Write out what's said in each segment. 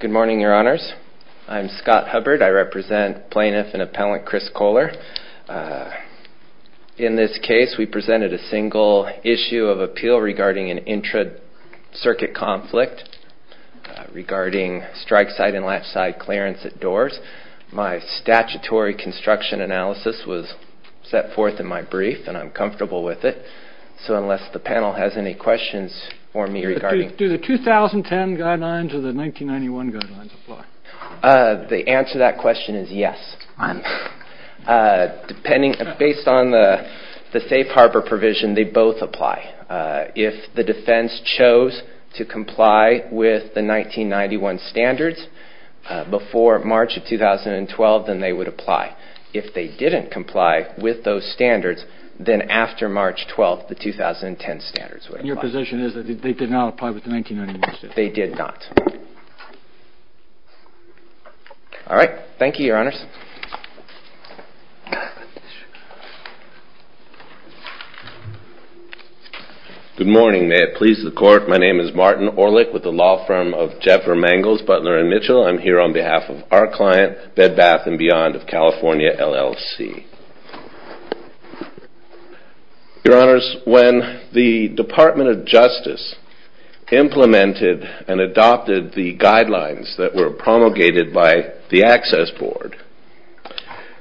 Good morning, your honors. I'm Scott Hubbard. I represent plaintiff and appellant Chris Kohler. In this case we presented a single issue of appeal regarding an intra-circuit conflict regarding strike side and latch side clearance at doors. My statutory construction analysis was set forth in my brief and I'm comfortable with it. So unless the panel has any questions for me regarding. Do the 2010 guidelines or the 1991 guidelines apply? The answer to that question is yes. Depending based on the safe harbor provision they both apply. If the defense chose to comply with the 1991 standards before March of 2012 then they would apply. If they didn't comply with those standards then after March 12th the 2010 standards would apply. Your position is that they did not apply with the 1991 standards? They did not. All right. Thank you, your honors. Good morning. May it please the court. My name is Martin Orlick with the law firm of Jeffer Mangels, Butler & Mitchell. I'm here on behalf of our client Bed Bath & Beyond of California LLC. Your honors, when the Department of Justice implemented and adopted the guidelines that were promulgated by the Access Board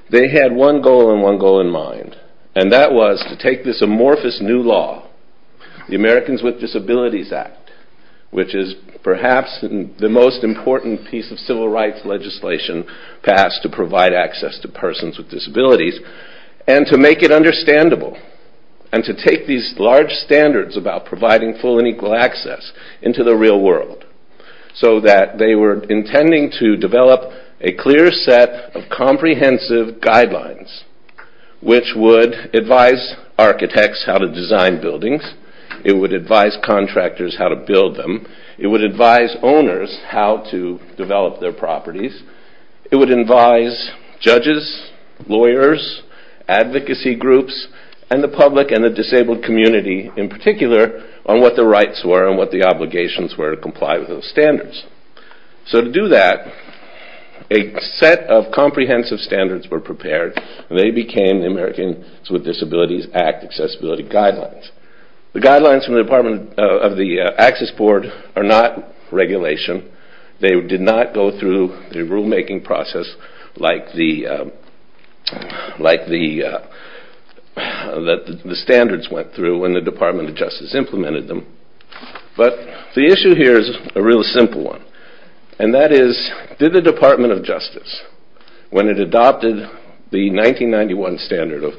they had one goal and one goal in mind and that was to take this amorphous new law, the Americans with Disabilities Act, which is perhaps the most important piece of civil rights legislation passed to provide access to persons with disabilities and to make it understandable and to take these large standards about providing full and equal access into the real world so that they were intending to develop a clear set of comprehensive guidelines which would advise architects how to design buildings, it would advise contractors how to build them, it would advise owners how to develop their properties, it would advise judges, lawyers, advocacy groups and the public and the disabled community in particular on what the rights were and what the obligations were to comply with those standards. So to do that a set of comprehensive standards were prepared and they became the Americans with Disabilities Act accessibility guidelines. The guidelines of the Access Board are not regulation, they did not go through the rule making process like the standards went through when the Department of Justice implemented them but the issue here is a real simple one and that is did the Department of Justice when it adopted the 1991 standard of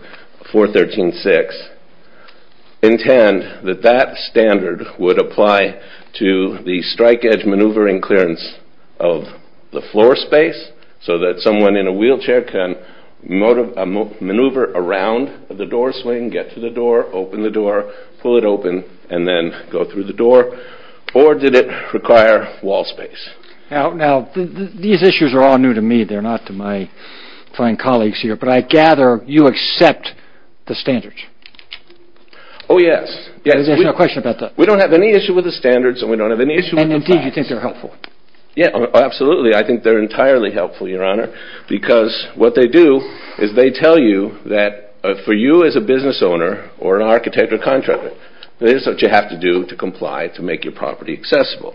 413-6 intend that that standard would apply to the strike edge maneuvering clearance of the floor space so that someone in a wheelchair can maneuver around the door swing, get to the door, open the door, pull it open and then go through the door or did it require wall space. Now these issues are all new to me, they are not to my fine colleagues here but I gather you accept the standards. Oh yes, we don't have any issue with the standards and we don't have any issue with the standards. And indeed you think they are helpful. Absolutely I think they are entirely helpful your honor because what they do is they tell you that for you as a business owner or an architect or contractor this is what you have to do to comply to make your property accessible.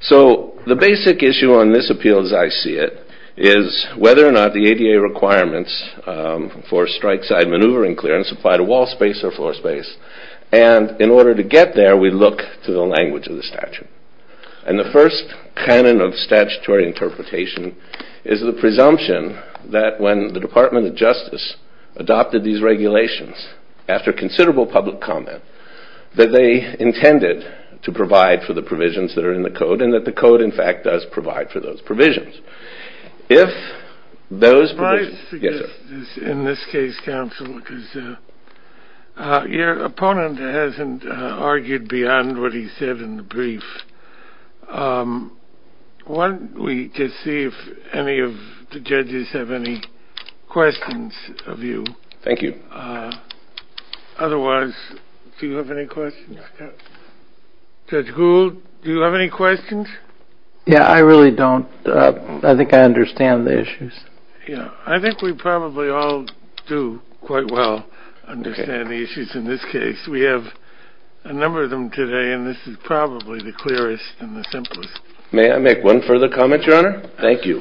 So the basic issue on this appeal as I see it is whether or not the ADA requirements for strike side maneuvering clearance apply to wall space or floor space and in order to get there we look to the language of the statute and the first canon of statutory interpretation is the presumption that when the Department of Justice adopted these regulations after considerable public comment that they intended to provide for the provisions that are in the code and that the code in fact does provide for those provisions. If those provisions... In this case counsel because your opponent hasn't argued beyond what he said in the brief. Why don't we just see if any of the judges have any questions of you. Thank you. Otherwise do you have any questions? Judge Gould do you have any questions? Yeah I really don't. I think I understand the issues. I think we probably all do quite well understand the issues in this case. We have a number of them today and this is probably the clearest and the simplest. May I make one further comment your honor? Thank you.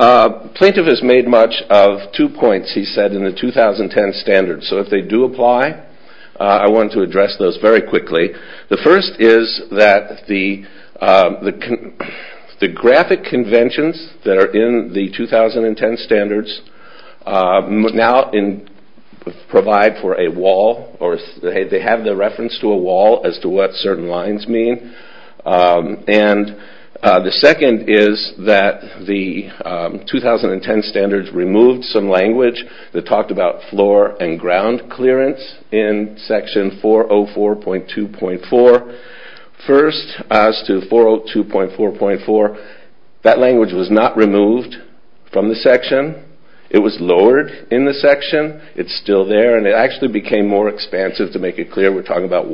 Plaintiff has made much of two points he said in the 2010 standards so if they do apply I want to address those very quickly. The first is that the graphic conventions that are in the 2010 standards now provide for a wall or they have the reference to a wall as to what certain lines mean and the 2010 standards removed some language that talked about floor and ground clearance in section 404.2.4. First as to 402.4.4 that language was not removed from the section. It was lowered in the section. It's still there and it actually became more expansive to make it clear we're talking about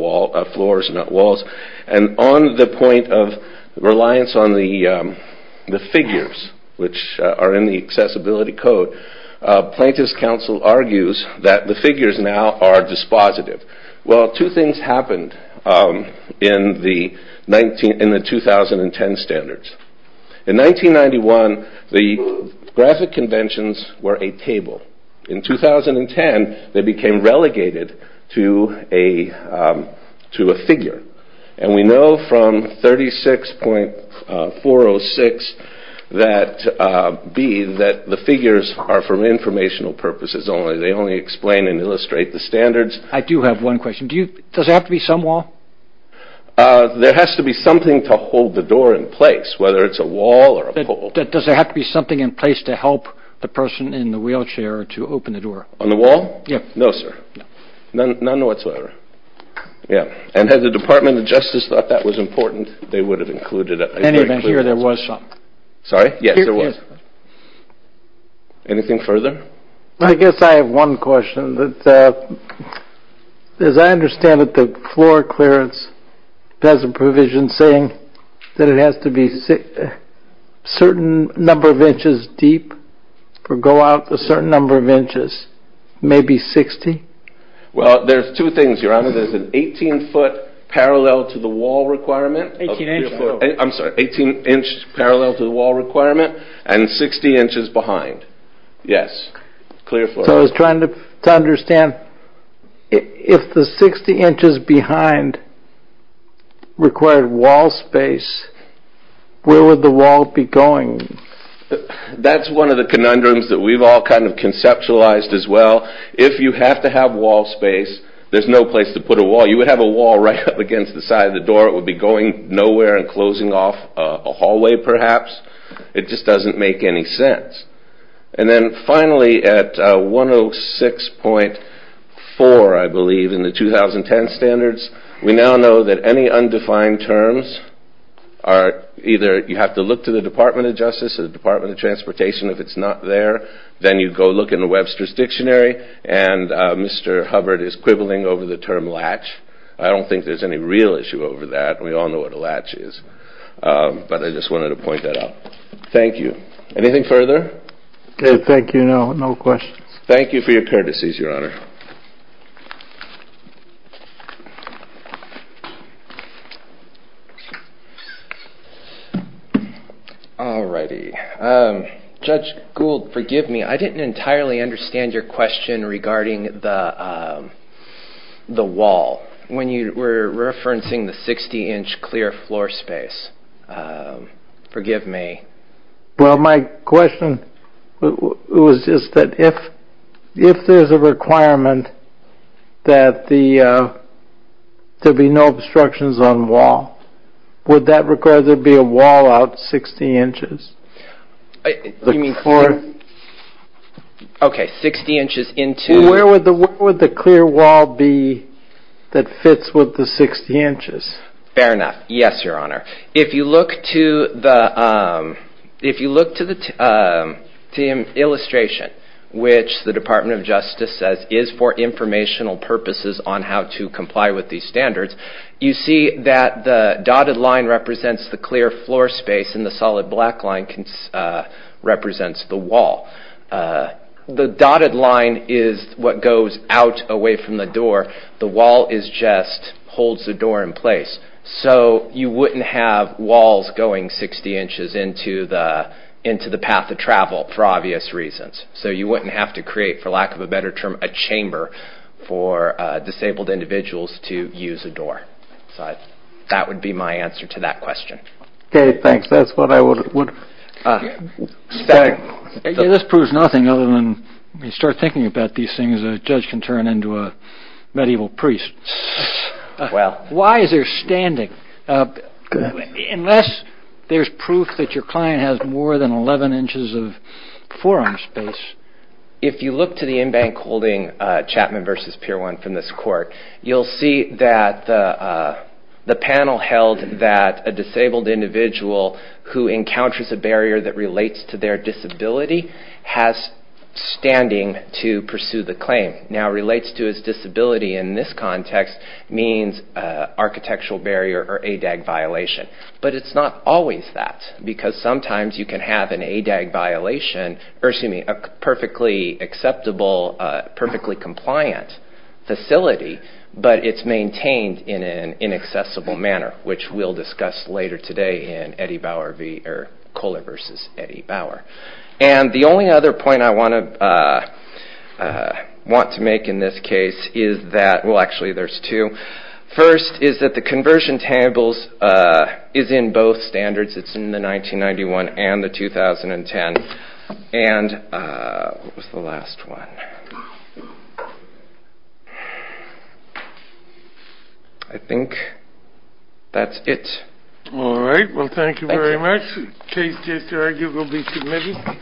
floors not walls and on the point of reliance on the figures which are in the accessibility code plaintiff's counsel argues that the figures now are dispositive. Well two things happened in the 2010 standards. In 1991 the graphic conventions were a table. In 2010 they became relegated to a figure and we know from 36.406 that the figures are for informational purposes only. They only explain and illustrate the standards. I do have one question. Does it have to be some wall? There has to be something to hold the door in place whether it's a wall or a pole. Does there have to be something in place to help the person in the wheelchair to open the door? On the wall? No sir. None whatsoever. Yeah and had the Department of Justice thought that was important they would have included it. And even here there was some. Sorry? Yes there was. Anything further? I guess I have one question that as I understand it the floor clearance has a provision saying that it has to be a certain number of inches deep or go out a certain number of inches. Maybe 60? Well there's two things your honor. There's an 18 foot parallel to the wall requirement. 18 inch foot. I'm sorry 18 inch parallel to the wall requirement and 60 inches behind. Yes. Clear floor. So I was trying to understand if the 60 inches behind required wall space where would the wall be going? That's one of the conundrums that we've all kind of conceptualized as well. If you have to have wall space there's no place to put a wall. You would have a wall right up against the side of the door it would be going nowhere and closing off a hallway perhaps. It just doesn't make any sense. And then finally at 106.4 I believe in the 2010 standards we now know that any undefined terms are either you have to look to the Department of Justice or the Department of Transportation if it's not there. Then you go look in the Webster's Dictionary and Mr. Hubbard is quibbling over the term latch. I don't think there's any real issue over that. We all know what a latch is but I just wanted to point that out. Thank you. Anything further? Okay, thank you. No questions. Thank you for your courtesies, Your Honor. All righty. Judge Gould, forgive me, I didn't entirely understand your question regarding the wall when you were referencing the 60 inch clear floor space. Forgive me. Well, my question was just that if there's a requirement that there be no obstructions on the wall, would that require there to be a wall out 60 inches? You mean clear? Okay, 60 inches into... Where would the clear wall be that fits with the 60 inches? Fair enough. Yes, Your Honor. If you look to the illustration which the Department of Justice says is for informational purposes on how to comply with these standards, you see that the dotted line represents the clear floor space and the solid black line represents the wall. The dotted line is what goes out away from the door. The wall just holds the door in place. So you wouldn't have walls going 60 inches into the path of travel for obvious reasons. So you wouldn't have to create, for lack of a better term, a chamber for disabled individuals to use a door. That would be my answer to that question. Okay, thanks. That's what I would... This proves nothing other than when you start thinking about these things, a judge can turn into a medieval priest. Why is there standing? Unless there's proof that your client has more than 11 inches of forearm space. If you look to the embankment holding Chapman v. Pier 1 from this court, you'll see that the panel held that a disabled individual who encounters a barrier that relates to their disability has standing to pursue the claim. Now, relates to his disability in this context means architectural barrier or ADAG violation. But it's not always that, because sometimes you can have an ADAG violation, or excuse me, a perfectly acceptable, perfectly compliant facility, but it's maintained in an inaccessible manner, which we'll discuss later today in Coller v. Eddie Bauer. And the only other point I want to make in this case is that... Well, actually there's two. First is that the conversion tables is in both standards. It's in the 1991 and the 2010. And what was the last one? I think that's it. All right. Well, thank you very much. This case is arguably submitted.